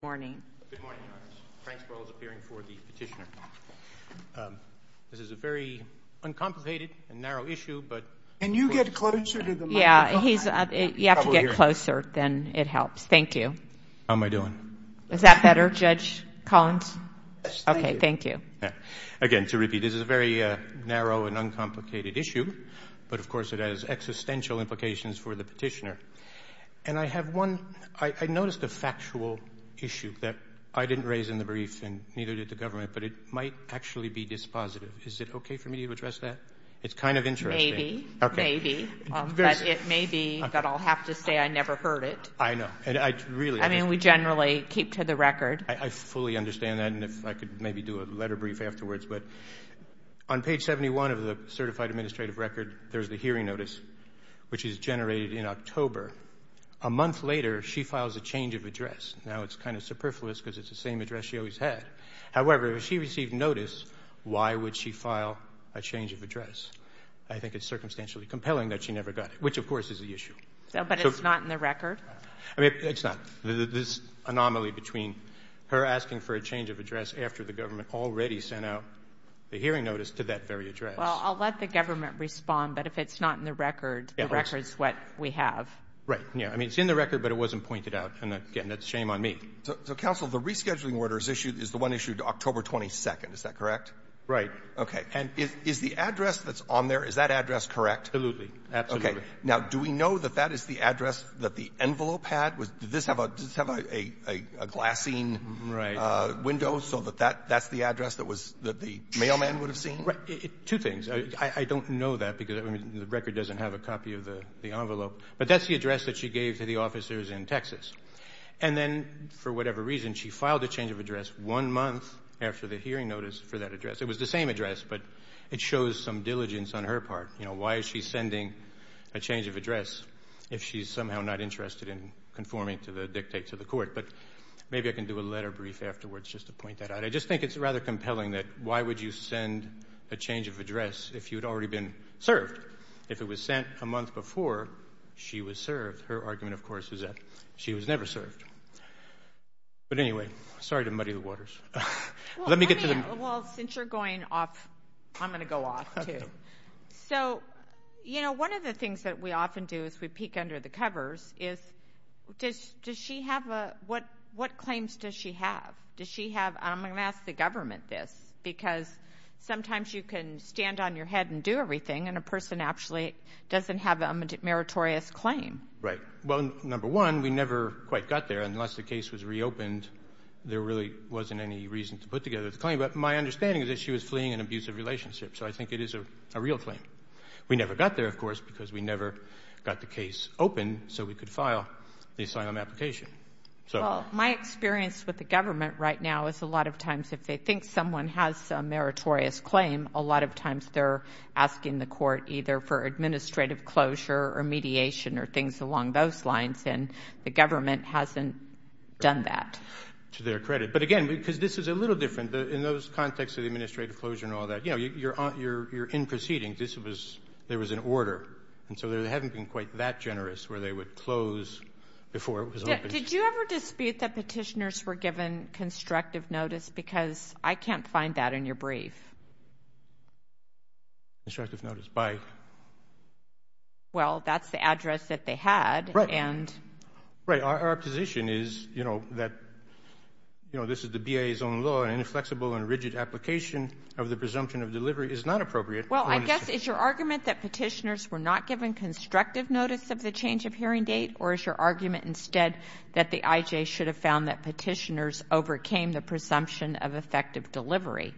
Good morning, Your Honor. Frank Sperl is appearing for the petitioner. This is a very uncomplicated and narrow issue, but... Can you get closer to the microphone? Yeah, you have to get closer, then it helps. Thank you. How am I doing? Is that better, Judge Collins? Yes, thank you. Okay, thank you. Again, to repeat, this is a very narrow and uncomplicated issue, but of course it has existential implications for the petitioner. And I have one, I noticed a factual issue that I didn't raise in the brief and neither did the government, but it might actually be dispositive. Is it okay for me to address that? It's kind of interesting. Maybe. Okay. But it may be that I'll have to say I never heard it. I know. I mean, we generally keep to the record. I fully understand that, and if I could maybe do a letter brief afterwards. But on page 71 of the certified administrative record, there's the hearing notice, which is generated in October. A month later, she files a change of address. Now, it's kind of superfluous because it's the same address she always had. However, if she received notice, why would she file a change of address? I think it's circumstantially compelling that she never got it, which, of course, is the issue. But it's not in the record? I mean, it's not. This anomaly between her asking for a change of address after the government already sent out the hearing notice to that very address. Well, I'll let the government respond, but if it's not in the record, the record's what we have. Right. Yeah. I mean, it's in the record, but it wasn't pointed out. And again, that's a shame on me. So, Counsel, the rescheduling order is issued, is the one issued October 22nd. Is that correct? Okay. And is the address that's on there, is that address correct? Absolutely. Now, do we know that that is the address that the envelope had? Did this have a glassine window so that that's the address that the mailman would have seen? Right. Two things. I don't know that because the record doesn't have a copy of the envelope. But that's the address that she gave to the officers in Texas. And then for whatever reason, she filed a change of address one month after the hearing notice for that address. It was the same address, but it shows some diligence on her part. You know, why is she sending a change of address if she's somehow not interested in conforming to the dictates of the court? But maybe I can do a letter brief afterwards just to point that out. I just think it's rather compelling that why would you send a change of address if you'd already been served? If it was sent a month before she was served, her argument, of course, is that she was never served. But anyway, sorry to muddy the waters. Let me get to the... Well, since you're going off, I'm going to go off, too. So, you know, one of the things that we often do as we peek under the covers is does she have a... What claims does she have? Does she have... And I'm going to ask the government this because sometimes you can stand on your head and do everything, and a person actually doesn't have a meritorious claim. Right. Well, number one, we never quite got there. Unless the case was reopened, there really wasn't any reason to put together the claim. But my understanding is that she was fleeing an abusive relationship. So I think it is a real claim. We never got there, of course, because we never got the case open so we could file the asylum application. Well, my experience with the government right now is a lot of times if they think someone has a meritorious claim, a lot of times they're asking the court either for administrative closure or mediation or things along those lines, and the government hasn't done that. To their credit. But, again, because this is a little different. In those contexts of the administrative closure and all that, you're in proceedings. There was an order. And so they haven't been quite that generous where they would close before it was opened. Did you ever dispute that petitioners were given constructive notice? Because I can't find that in your brief. Constructive notice by? Well, that's the address that they had. Right. Our position is that this is the BIA's own law and inflexible and rigid application of the presumption of delivery is not appropriate. Well, I guess it's your argument that petitioners were not given constructive notice of the change of hearing date, or is your argument instead that the IJ should have found that petitioners overcame the presumption of effective delivery?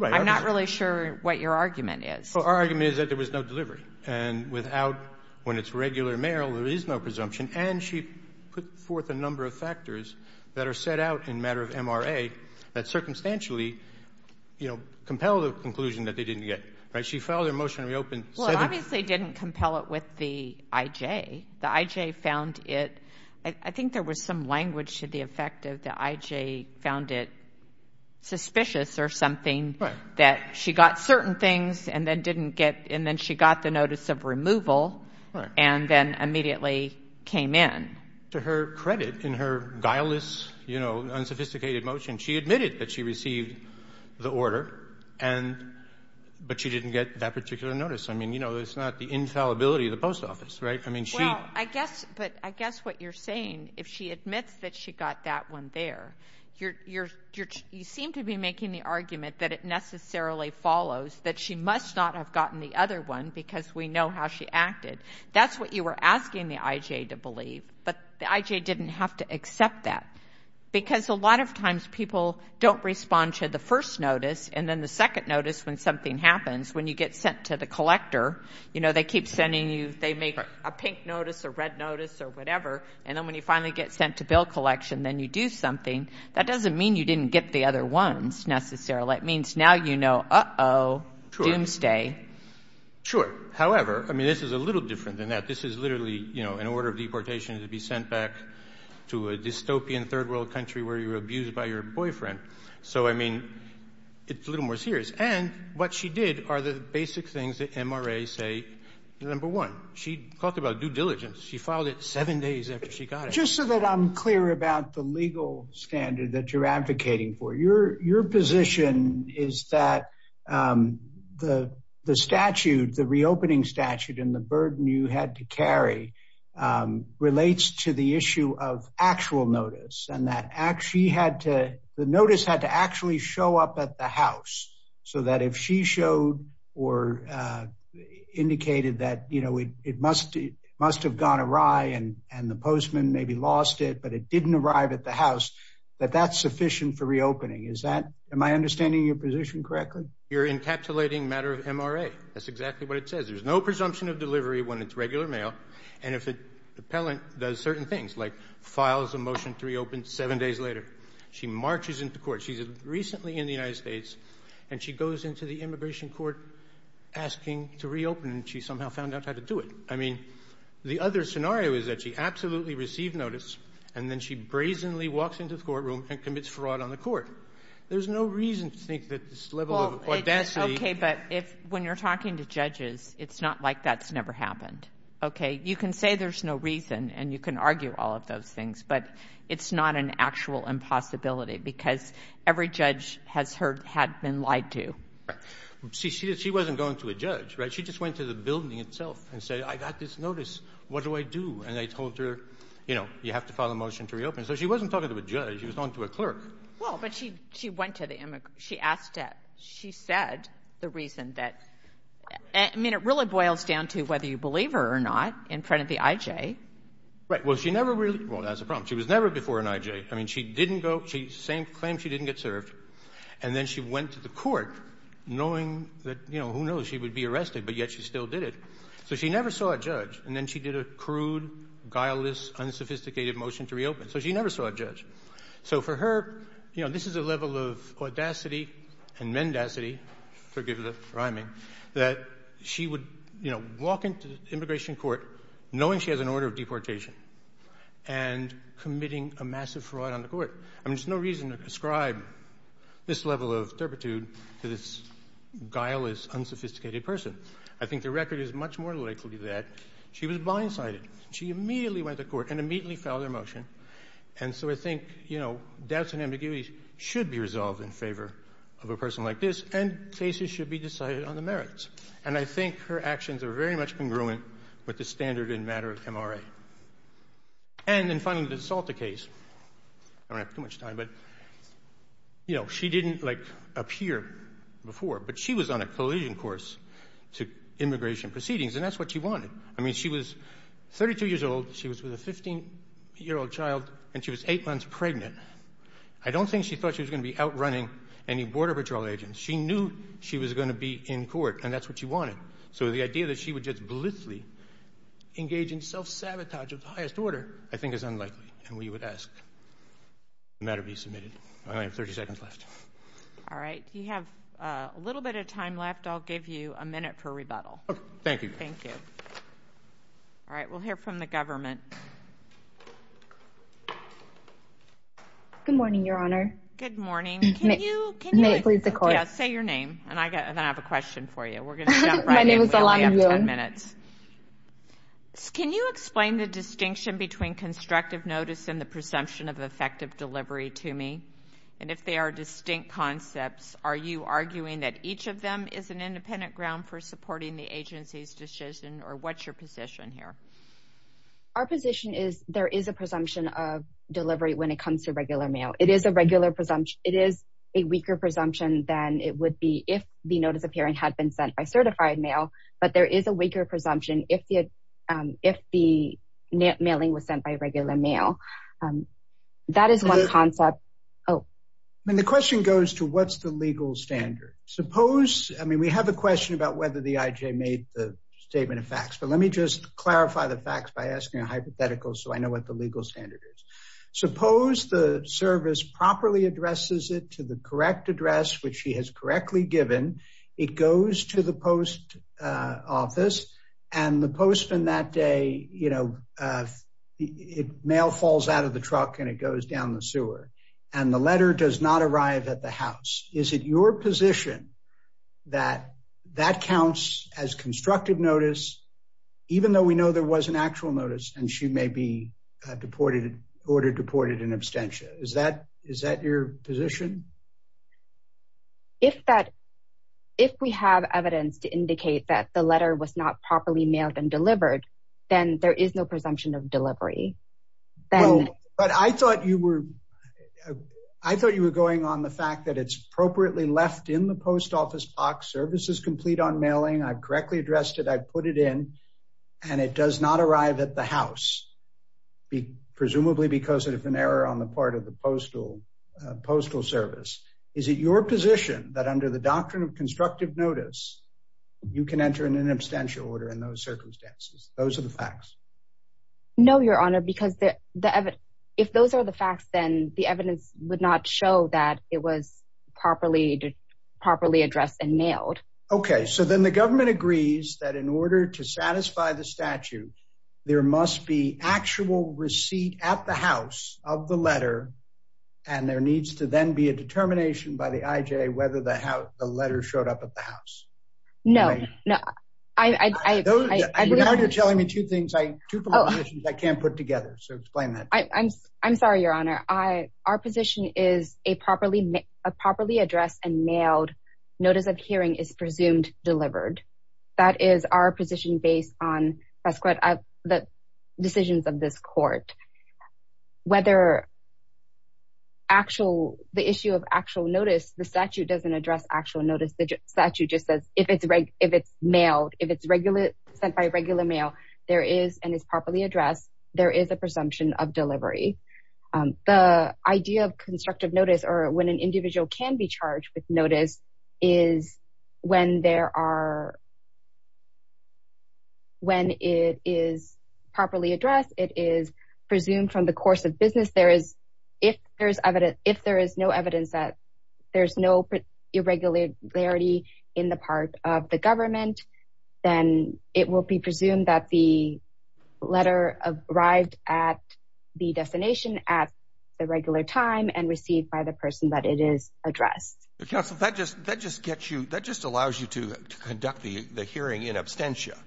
I'm not really sure what your argument is. Well, our argument is that there was no delivery. And without, when it's regular mail, there is no presumption. And she put forth a number of factors that are set out in matter of MRA that circumstantially, you know, compel the conclusion that they didn't get. Right? She filed her motion and reopened. Well, it obviously didn't compel it with the IJ. The IJ found it. I think there was some language to the effect of the IJ found it suspicious or something. Right. That she got certain things and then didn't get, and then she got the notice of removal. Right. And then immediately came in. To her credit, in her guileless, you know, unsophisticated motion, she admitted that she received the order, and, but she didn't get that particular notice. I mean, you know, it's not the infallibility of the post office, right? I mean, she. Well, I guess, but I guess what you're saying, if she admits that she got that one there, you're, you seem to be making the argument that it necessarily follows that she must not have gotten the other one because we know how she acted. That's what you were asking the IJ to believe, but the IJ didn't have to accept that. Because a lot of times people don't respond to the first notice, and then the second notice when something happens, when you get sent to the collector, you know, they keep sending you, they make a pink notice or red notice or whatever, and then when you finally get sent to bill collection, then you do something. That doesn't mean you didn't get the other ones necessarily. It means now you know, uh-oh, doomsday. Sure. However, I mean, this is a little different than that. This is literally, you know, an order of deportation to be sent back to a dystopian third world country where you were abused by your boyfriend. So, I mean, it's a little more serious. And what she did are the basic things that MRA say, number one, she talked about due diligence. She filed it seven days after she got it. Just so that I'm clear about the legal standard that you're advocating for. Your position is that the statute, the reopening statute and the burden you had to carry relates to the issue of actual notice and that she had to, the notice had to actually show up at the house so that if she showed or indicated that, you know, it was gone awry and the postman maybe lost it, but it didn't arrive at the house, that that's sufficient for reopening. Is that, am I understanding your position correctly? You're encapsulating matter of MRA. That's exactly what it says. There's no presumption of delivery when it's regular mail. And if the appellant does certain things, like files a motion to reopen seven days later, she marches into court. She's recently in the United States and she goes into the immigration court asking to reopen and she somehow found out how to do it. I mean, the other scenario is that she absolutely received notice and then she brazenly walks into the courtroom and commits fraud on the court. There's no reason to think that this level of audacity. Well, it's okay, but when you're talking to judges, it's not like that's never happened. Okay? You can say there's no reason and you can argue all of those things, but it's not an actual impossibility because every judge has heard, had been lied to. Right. See, she wasn't going to a judge, right? She just went to the building itself and said, I got this notice. What do I do? And they told her, you know, you have to file a motion to reopen. So she wasn't talking to a judge. She was talking to a clerk. Well, but she went to the immigrant. She asked that. She said the reason that — I mean, it really boils down to whether you believe her or not in front of the I.J. Right. Well, she never really — well, that's a problem. She was never before an I.J. I mean, she didn't go — same claim, she didn't get served. And then she went to the court knowing that, you know, who knows, she would be arrested, but yet she still did it. So she never saw a judge. And then she did a crude, guileless, unsophisticated motion to reopen. So she never saw a judge. So for her, you know, this is a level of audacity and mendacity — forgive the rhyming — that she would, you know, walk into the immigration court knowing she has an order of deportation and committing a massive fraud on the court. I mean, there's no reason to ascribe this level of turpitude to this guileless, unsophisticated person. I think the record is much more likely that she was blindsided. She immediately went to court and immediately filed her motion. And so I think, you know, doubts and ambiguities should be resolved in favor of a person like this, and cases should be decided on the merits. And I think her actions are very much congruent with the standard in matter of MRA. And then finally, the Salter case. I don't have too much time, but, you know, she didn't, like, appear before. But she was on a collision course to immigration proceedings, and that's what she wanted. I mean, she was 32 years old. She was with a 15-year-old child, and she was eight months pregnant. I don't think she thought she was going to be outrunning any Border Patrol agents. She knew she was going to be in court, and that's what she wanted. So the idea that she would just blithely engage in self-sabotage of the highest order I think is unlikely, and we would ask the matter be submitted. I only have 30 seconds left. All right. You have a little bit of time left. I'll give you a minute for rebuttal. Okay. Thank you. Thank you. All right. We'll hear from the government. Good morning, Your Honor. Good morning. May it please the Court. Yes, say your name, and then I have a question for you. We're going to jump right in. We only have 10 minutes. Can you explain the distinction between constructive notice and the presumption of effective delivery to me? And if they are distinct concepts, are you arguing that each of them is an independent ground for supporting the agency's decision, or what's your position here? Our position is there is a presumption of delivery when it comes to regular mail. It is a regular presumption. It is a weaker presumption than it would be if the notice of hearing had been sent by certified mail, but there is a weaker presumption if the mailing was sent by regular mail. That is one concept. The question goes to what's the legal standard. I mean, we have a question about whether the IJ made the statement of facts, but let me just clarify the facts by asking a hypothetical so I know what the legal standard is. Suppose the service properly addresses it to the correct address, which he has correctly given. It goes to the post office, and the postman that day, you know, mail falls out of the truck and it goes down the sewer, and the letter does not arrive at the house. Is it your position that that counts as constructive notice, even though we know there was an actual notice and she may be ordered deported in absentia? Is that your position? If we have evidence to indicate that the letter was not properly mailed and delivered, then there is no presumption of delivery. But I thought you were going on the fact that it's appropriately left in the post office box. Service is complete on mailing. I've correctly addressed it. I've put it in and it does not arrive at the house, presumably because of an error on the part of the postal service. Is it your position that under the doctrine of constructive notice, you can enter in an abstention order in those circumstances? Those are the facts. No, Your Honor, because if those are the facts, then the evidence would not show that it was properly addressed and mailed. OK, so then the government agrees that in order to satisfy the statute, there must be actual receipt at the house of the letter. And there needs to then be a determination by the IJ whether the letter showed up at the house. No, no. I know you're telling me two things I can't put together. So explain that. I'm sorry, Your Honor. Our position is a properly addressed and mailed notice of hearing is presumed delivered. That is our position based on the decisions of this court. Whether the issue of actual notice, the statute doesn't address actual notice. The statute just says if it's mailed, if it's sent by regular mail, there is and is properly addressed. There is a presumption of delivery. The idea of constructive notice or when an individual can be charged with notice is when there are. When it is properly addressed, it is presumed from the course of business, there is if there is evidence, if there is no evidence that there is no irregularity in the part of the government, then it will be presumed that the letter arrived at the destination at the regular time and received by the person that it is addressed. Counsel, that just allows you to conduct the hearing in absentia.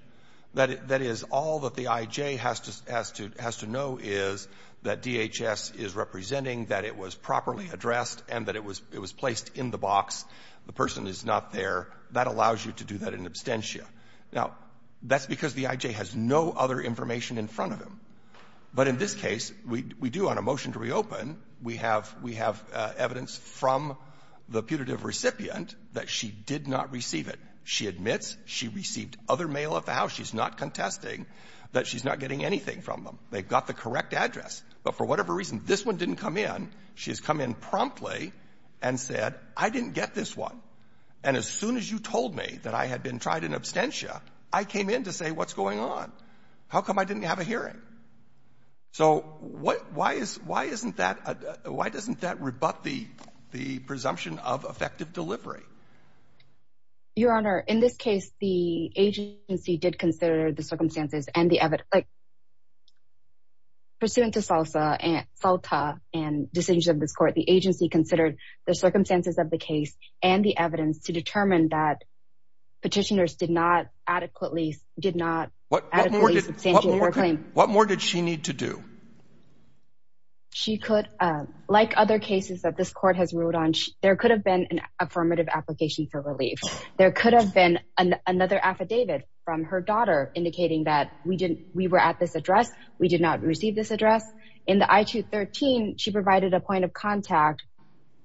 That is all that the IJ has to know is that DHS is representing that it was properly addressed and that it was placed in the box. The person is not there. That allows you to do that in absentia. Now, that's because the IJ has no other information in front of him. But in this case, we do on a motion to reopen. We have evidence from the putative recipient that she did not receive it. She admits she received other mail at the house. She's not contesting that she's not getting anything from them. They've got the correct address. But for whatever reason, this one didn't come in. She has come in promptly and said, I didn't get this one. And as soon as you told me that I had been tried in absentia, I came in to say what's going on. How come I didn't have a hearing? So why doesn't that rebut the presumption of effective delivery? Your Honor, in this case, the agency did consider the circumstances and the evidence. Pursuant to SALTA and decisions of this court, the agency considered the circumstances of the case and the evidence to determine that petitioners did not adequately did not claim. What more did she need to do? She could, like other cases that this court has ruled on, there could have been an affirmative application for relief. There could have been another affidavit from her daughter indicating that we didn't we were at this address. We did not receive this address. In the I-213, she provided a point of contact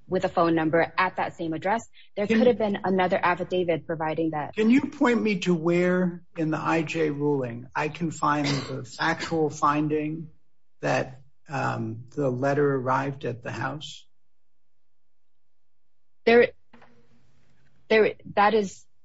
with a phone number at that same address. There could have been another affidavit providing that. Can you point me to where in the IJ ruling I can find the actual finding that the letter arrived at the house? That is —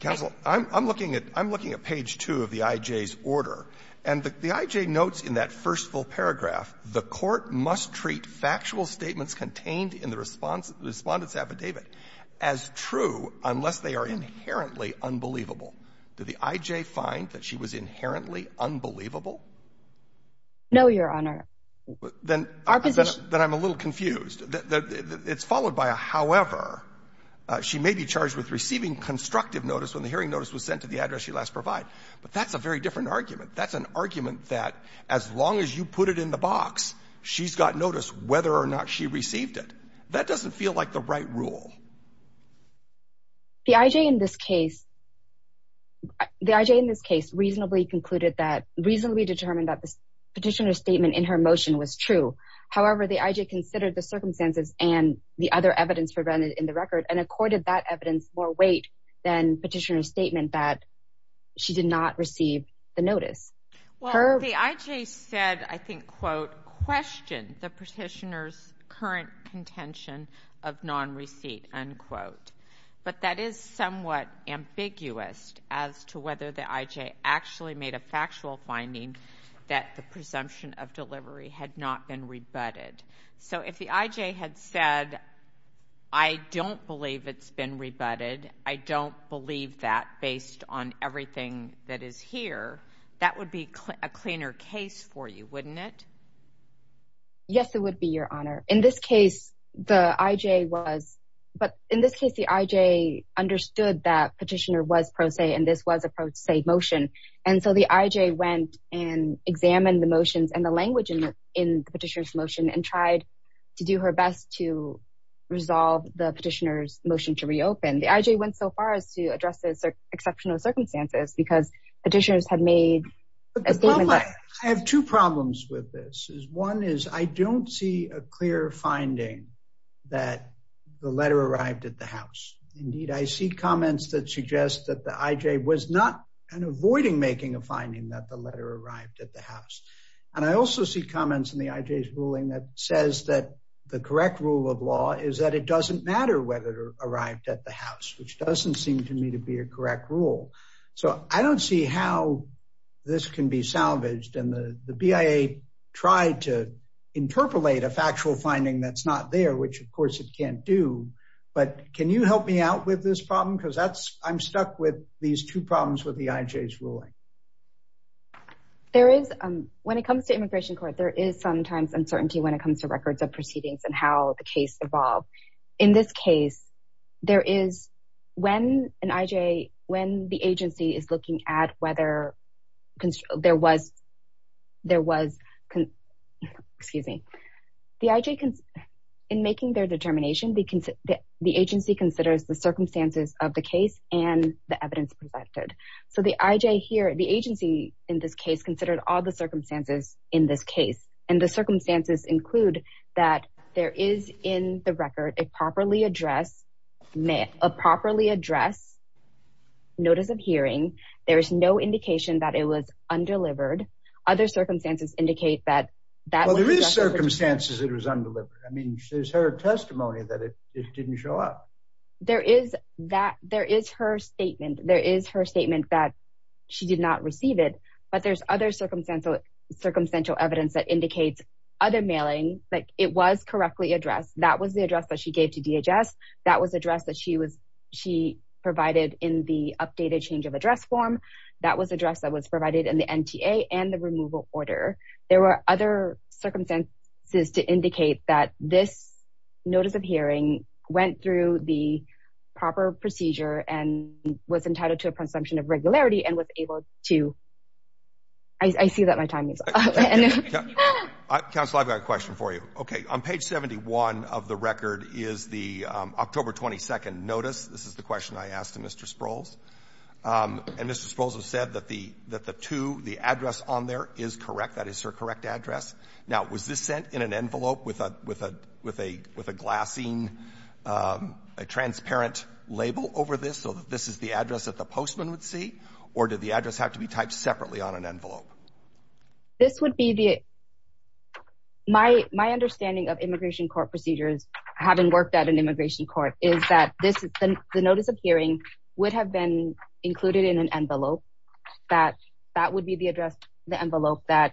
Counsel, I'm looking at page 2 of the IJ's order. And the IJ notes in that first full paragraph, Did the IJ find that she was inherently unbelievable? No, Your Honor. Then I'm a little confused. It's followed by a however. She may be charged with receiving constructive notice when the hearing notice was sent to the address she last provided. But that's a very different argument. That's an argument that as long as you put it in the box, she's got notice whether or not she received it. That doesn't feel like the right rule. The IJ in this case reasonably concluded that — reasonably determined that the petitioner's statement in her motion was true. However, the IJ considered the circumstances and the other evidence presented in the record and accorded that evidence more weight than petitioner's statement that she did not receive the notice. Well, the IJ said, I think, quote, Questioned the petitioner's current contention of non-receipt, unquote. But that is somewhat ambiguous as to whether the IJ actually made a factual finding that the presumption of delivery had not been rebutted. So if the IJ had said, I don't believe it's been rebutted, I don't believe that based on everything that is here, that would be a cleaner case for you, wouldn't it? Yes, it would be, Your Honor. In this case, the IJ was — but in this case, the IJ understood that petitioner was pro se and this was a pro se motion. And so the IJ went and examined the motions and the language in the petitioner's motion and tried to do her best to resolve the petitioner's motion to reopen. The IJ went so far as to address the exceptional circumstances because petitioners had made a statement that — I have two problems with this. One is I don't see a clear finding that the letter arrived at the House. Indeed, I see comments that suggest that the IJ was not avoiding making a finding that the letter arrived at the House. And I also see comments in the IJ's ruling that says that the correct rule of law is that it doesn't matter whether it arrived at the House, which doesn't seem to me to be a correct rule. So I don't see how this can be salvaged. And the BIA tried to interpolate a factual finding that's not there, which, of course, it can't do. But can you help me out with this problem? Because that's — I'm stuck with these two problems with the IJ's ruling. There is — when it comes to immigration court, there is sometimes uncertainty when it comes to records of proceedings and how the case evolved. In this case, there is — when an IJ — when the agency is looking at whether there was — there was — excuse me. The IJ — in making their determination, the agency considers the circumstances of the case and the evidence presented. So the IJ here — the agency in this case considered all the circumstances in this case. And the circumstances include that there is in the record a properly addressed notice of hearing. There is no indication that it was undelivered. Other circumstances indicate that that was addressed. Well, there is circumstances it was undelivered. I mean, there's her testimony that it didn't show up. There is that — there is her statement. There is her statement that she did not receive it. But there's other circumstantial evidence that indicates other mailing, like it was correctly addressed. That was the address that she gave to DHS. That was the address that she provided in the updated change of address form. That was the address that was provided in the NTA and the removal order. There were other circumstances to indicate that this notice of hearing went through the proper procedure and was entitled to a presumption of regularity and was able to — I see that my time is up. Counsel, I've got a question for you. Okay. On page 71 of the record is the October 22nd notice. This is the question I asked to Mr. Sprouls. And Mr. Sprouls has said that the two — the address on there is correct. That is her correct address. Now, was this sent in an envelope with a glassine, a transparent label over this, so that this is the address that the postman would see? Or did the address have to be typed separately on an envelope? This would be the — my understanding of immigration court procedures, having worked at an immigration court, is that the notice of hearing would have been included in an envelope. That would be the address, the envelope, that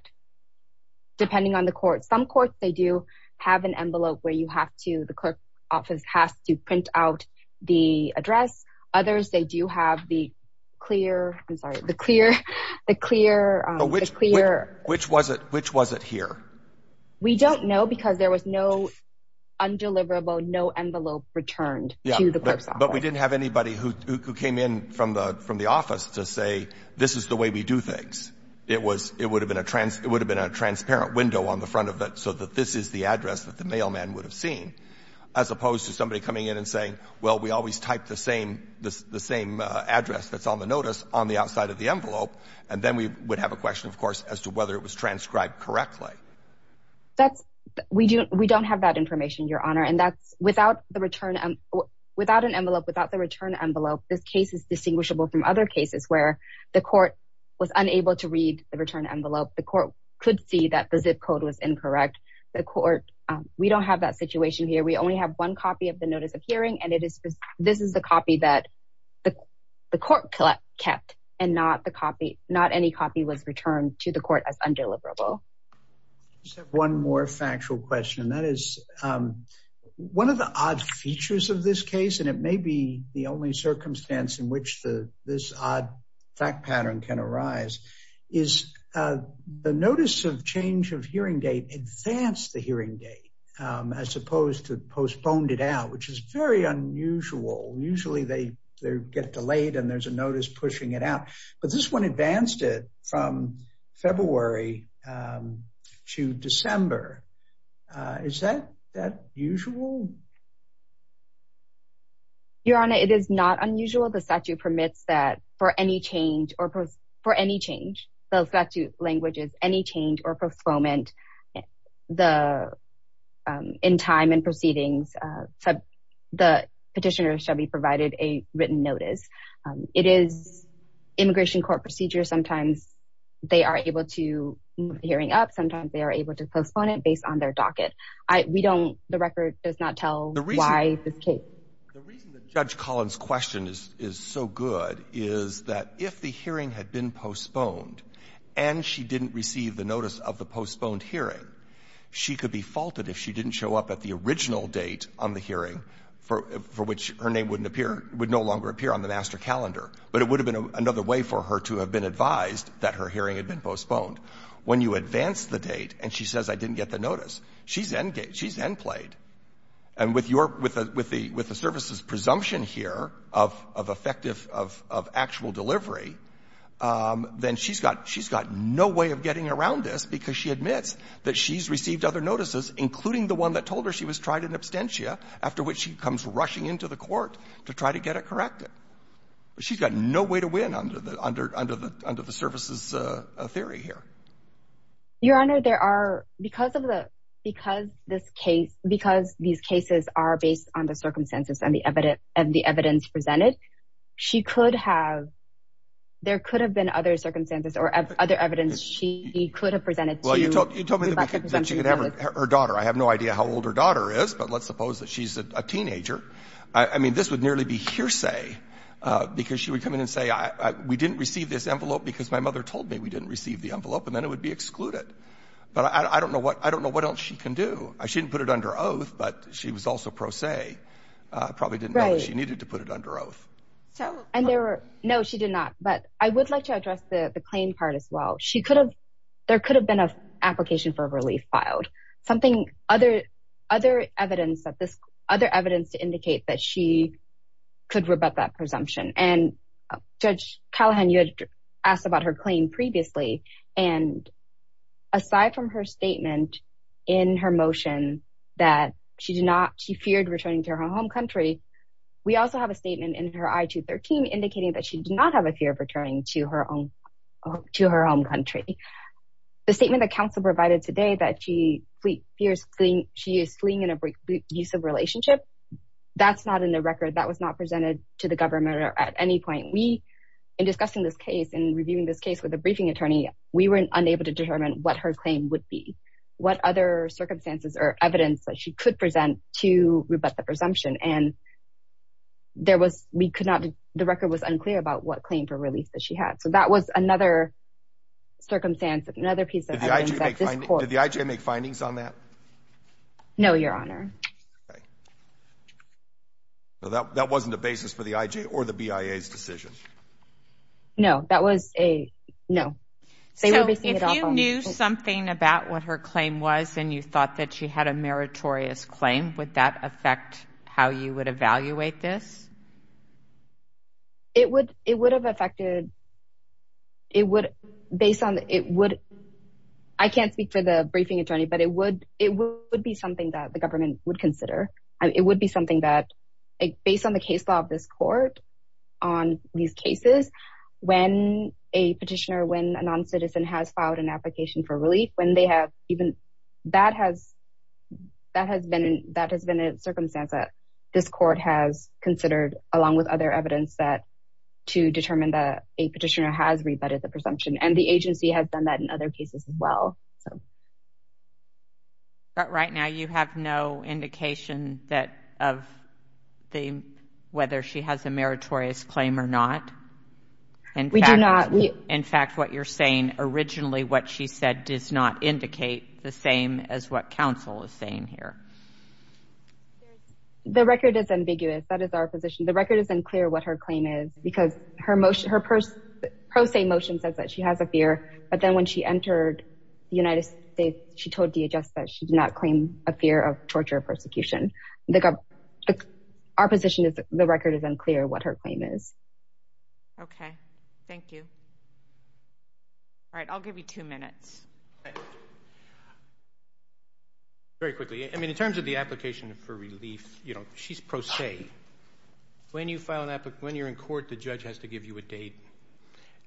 depending on the court — some courts, they do have an envelope where you have to — the clerk's office has to print out the address. Others, they do have the clear — I'm sorry, the clear — the clear — Which was it here? We don't know because there was no undeliverable, no envelope returned to the clerk's office. Yeah, but we didn't have anybody who came in from the office to say, this is the way we do things. It was — it would have been a transparent window on the front of it, so that this is the address that the mailman would have seen, as opposed to somebody coming in and saying, well, we always type the same address that's on the notice on the outside of the envelope, and then we would have a question, of course, as to whether it was transcribed correctly. That's — we don't have that information, Your Honor. And that's — without the return — without an envelope, without the return envelope, this case is distinguishable from other cases where the court was unable to read the return envelope. The court could see that the zip code was incorrect. The court — we don't have that situation here. We only have one copy of the notice of hearing, and it is — this is the copy that the court kept, and not the copy — not any copy was returned to the court as undeliverable. I just have one more factual question, and that is, one of the odd features of this case, and it may be the only circumstance in which this odd fact pattern can arise, is the notice of change of hearing date advanced the hearing date, as opposed to postponed it out, which is very unusual. Usually, they get delayed, and there's a notice pushing it out. But this one advanced it from February to December. Is that usual? Your Honor, it is not unusual. The statute permits that for any change or — for any change. The statute language is any change or postponement in time and proceedings. The petitioner, Shelby, provided a written notice. It is immigration court procedure. Sometimes they are able to move the hearing up. Sometimes they are able to postpone it based on their docket. We don't — the record does not tell why this case. Breyer. The reason that Judge Collins' question is so good is that if the hearing had been postponed and she didn't receive the notice of the postponed hearing, she could be faulted if she didn't show up at the original date on the hearing, for which her name would no longer appear on the master calendar. But it would have been another way for her to have been advised that her hearing had been postponed. When you advance the date and she says, I didn't get the notice, she's end played. And with your — with the service's presumption here of effective — of actual delivery, then she's got — she's got no way of getting around this because she admits that she's received other notices, including the one that told her she was tried in absentia, after which she comes rushing into the court to try to get it corrected. She's got no way to win under the — under the — under the service's theory here. Your Honor, there are — because of the — because this case — because these cases are based on the circumstances and the evidence — and the evidence presented, she could have — there could have been other circumstances or other evidence she could have presented to — Well, you told — you told me that she could have her daughter. I have no idea how old her daughter is, but let's suppose that she's a teenager. I mean, this would nearly be hearsay because she would come in and say, we didn't receive this envelope because my mother told me we didn't receive the envelope, and then it would be excluded. But I don't know what — I don't know what else she can do. She didn't put it under oath, but she was also pro se. Right. Probably didn't know that she needed to put it under oath. So — And there were — no, she did not. But I would like to address the — the claim part as well. She could have — there could have been an application for relief filed, something — other — other evidence that this — other evidence to indicate that she could rebut that presumption. And Judge Callahan, you had asked about her claim previously. And aside from her statement in her motion that she did not — she feared returning to her home country, we also have a statement in her I-213 indicating that she did not have a fear of returning to her own — to her home country. The statement that counsel provided today that she fears — she is fleeing an abusive relationship, that's not in the record. That was not presented to the government at any point. We, in discussing this case and reviewing this case with a briefing attorney, we were unable to determine what her claim would be, what other circumstances or evidence that she could present to rebut the presumption. And there was — we could not — the record was unclear about what claim for relief that she had. So that was another circumstance, another piece of evidence that this court — Did the IJ make findings on that? No, Your Honor. Okay. So that wasn't a basis for the IJ or the BIA's decision? No, that was a — no. So if you knew something about what her claim was and you thought that she had a meritorious claim, would that affect how you would evaluate this? It would — it would have affected — it would — based on — it would — I can't speak for the briefing attorney, but it would — it would be something that the government would consider. It would be something that — based on the case law of this court, on these cases, when a petitioner, when a non-citizen has filed an application for relief, when they have even — that has — that has been a circumstance that this court has considered along with other evidence that — to determine that a petitioner has rebutted the presumption. And the agency has done that in other cases as well, so. But right now, you have no indication that — of the — whether she has a meritorious claim or not? We do not. In fact, what you're saying, originally what she said does not indicate the same as what counsel is saying here. The record is ambiguous. That is our position. The record is unclear what her claim is because her — her pro se motion says that she has a fear, but then when she entered the United States, she told DHS that she did not claim a fear of torture or persecution. The — our position is the record is unclear what her claim is. Okay. Thank you. All right. I'll give you two minutes. Very quickly. I mean, in terms of the application for relief, you know, she's pro se. When you file an — when you're in court, the judge has to give you a date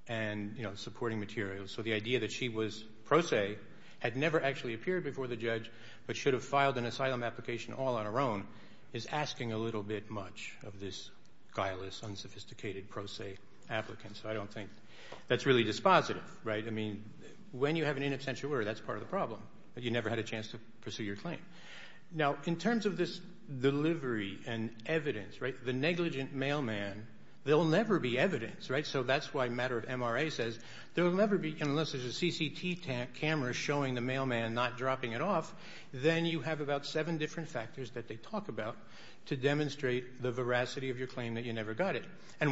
and, you know, supporting materials. So the idea that she was pro se, had never actually appeared before the judge, but should have filed an asylum application all on her own is asking a little bit much of this guileless, unsophisticated pro se applicant. So I don't think that's really dispositive, right? I mean, when you have an in absentia order, that's part of the problem. You never had a chance to pursue your claim. Now, in terms of this delivery and evidence, right, the negligent mailman, there will never be evidence, right? So that's why a matter of MRA says there will never be, unless there's a CCT camera showing the mailman not dropping it off, then you have about seven different factors that they talk about to demonstrate the veracity of your claim that you never got it. And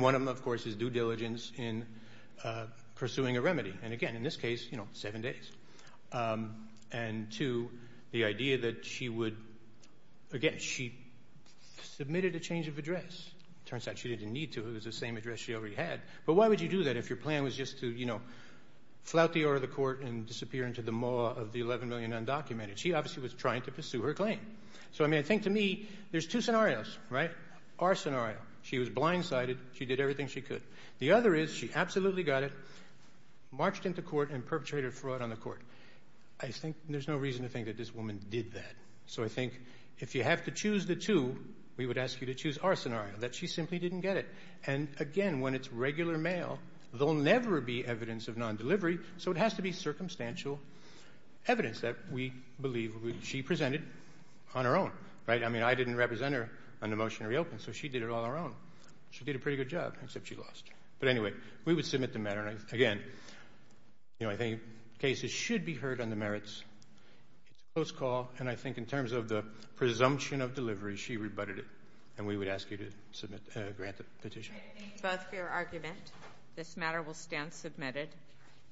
again, in this case, you know, seven days. And two, the idea that she would — again, she submitted a change of address. It turns out she didn't need to. It was the same address she already had. But why would you do that if your plan was just to, you know, flout the order of the court and disappear into the maw of the 11 million undocumented? She obviously was trying to pursue her claim. So, I mean, I think to me there's two scenarios, right? Our scenario, she was blindsided. She did everything she could. The other is she absolutely got it. Marched into court and perpetrated fraud on the court. I think there's no reason to think that this woman did that. So I think if you have to choose the two, we would ask you to choose our scenario, that she simply didn't get it. And, again, when it's regular mail, there will never be evidence of non-delivery, so it has to be circumstantial evidence that we believe she presented on her own. Right? I mean, I didn't represent her on the motion to reopen, so she did it all on her own. She did a pretty good job, except she lost. But, anyway, we would submit the matter. Again, I think cases should be heard on the merits. It's a close call, and I think in terms of the presumption of delivery, she rebutted it. And we would ask you to grant the petition. Thank you both for your argument. This matter will stand submitted.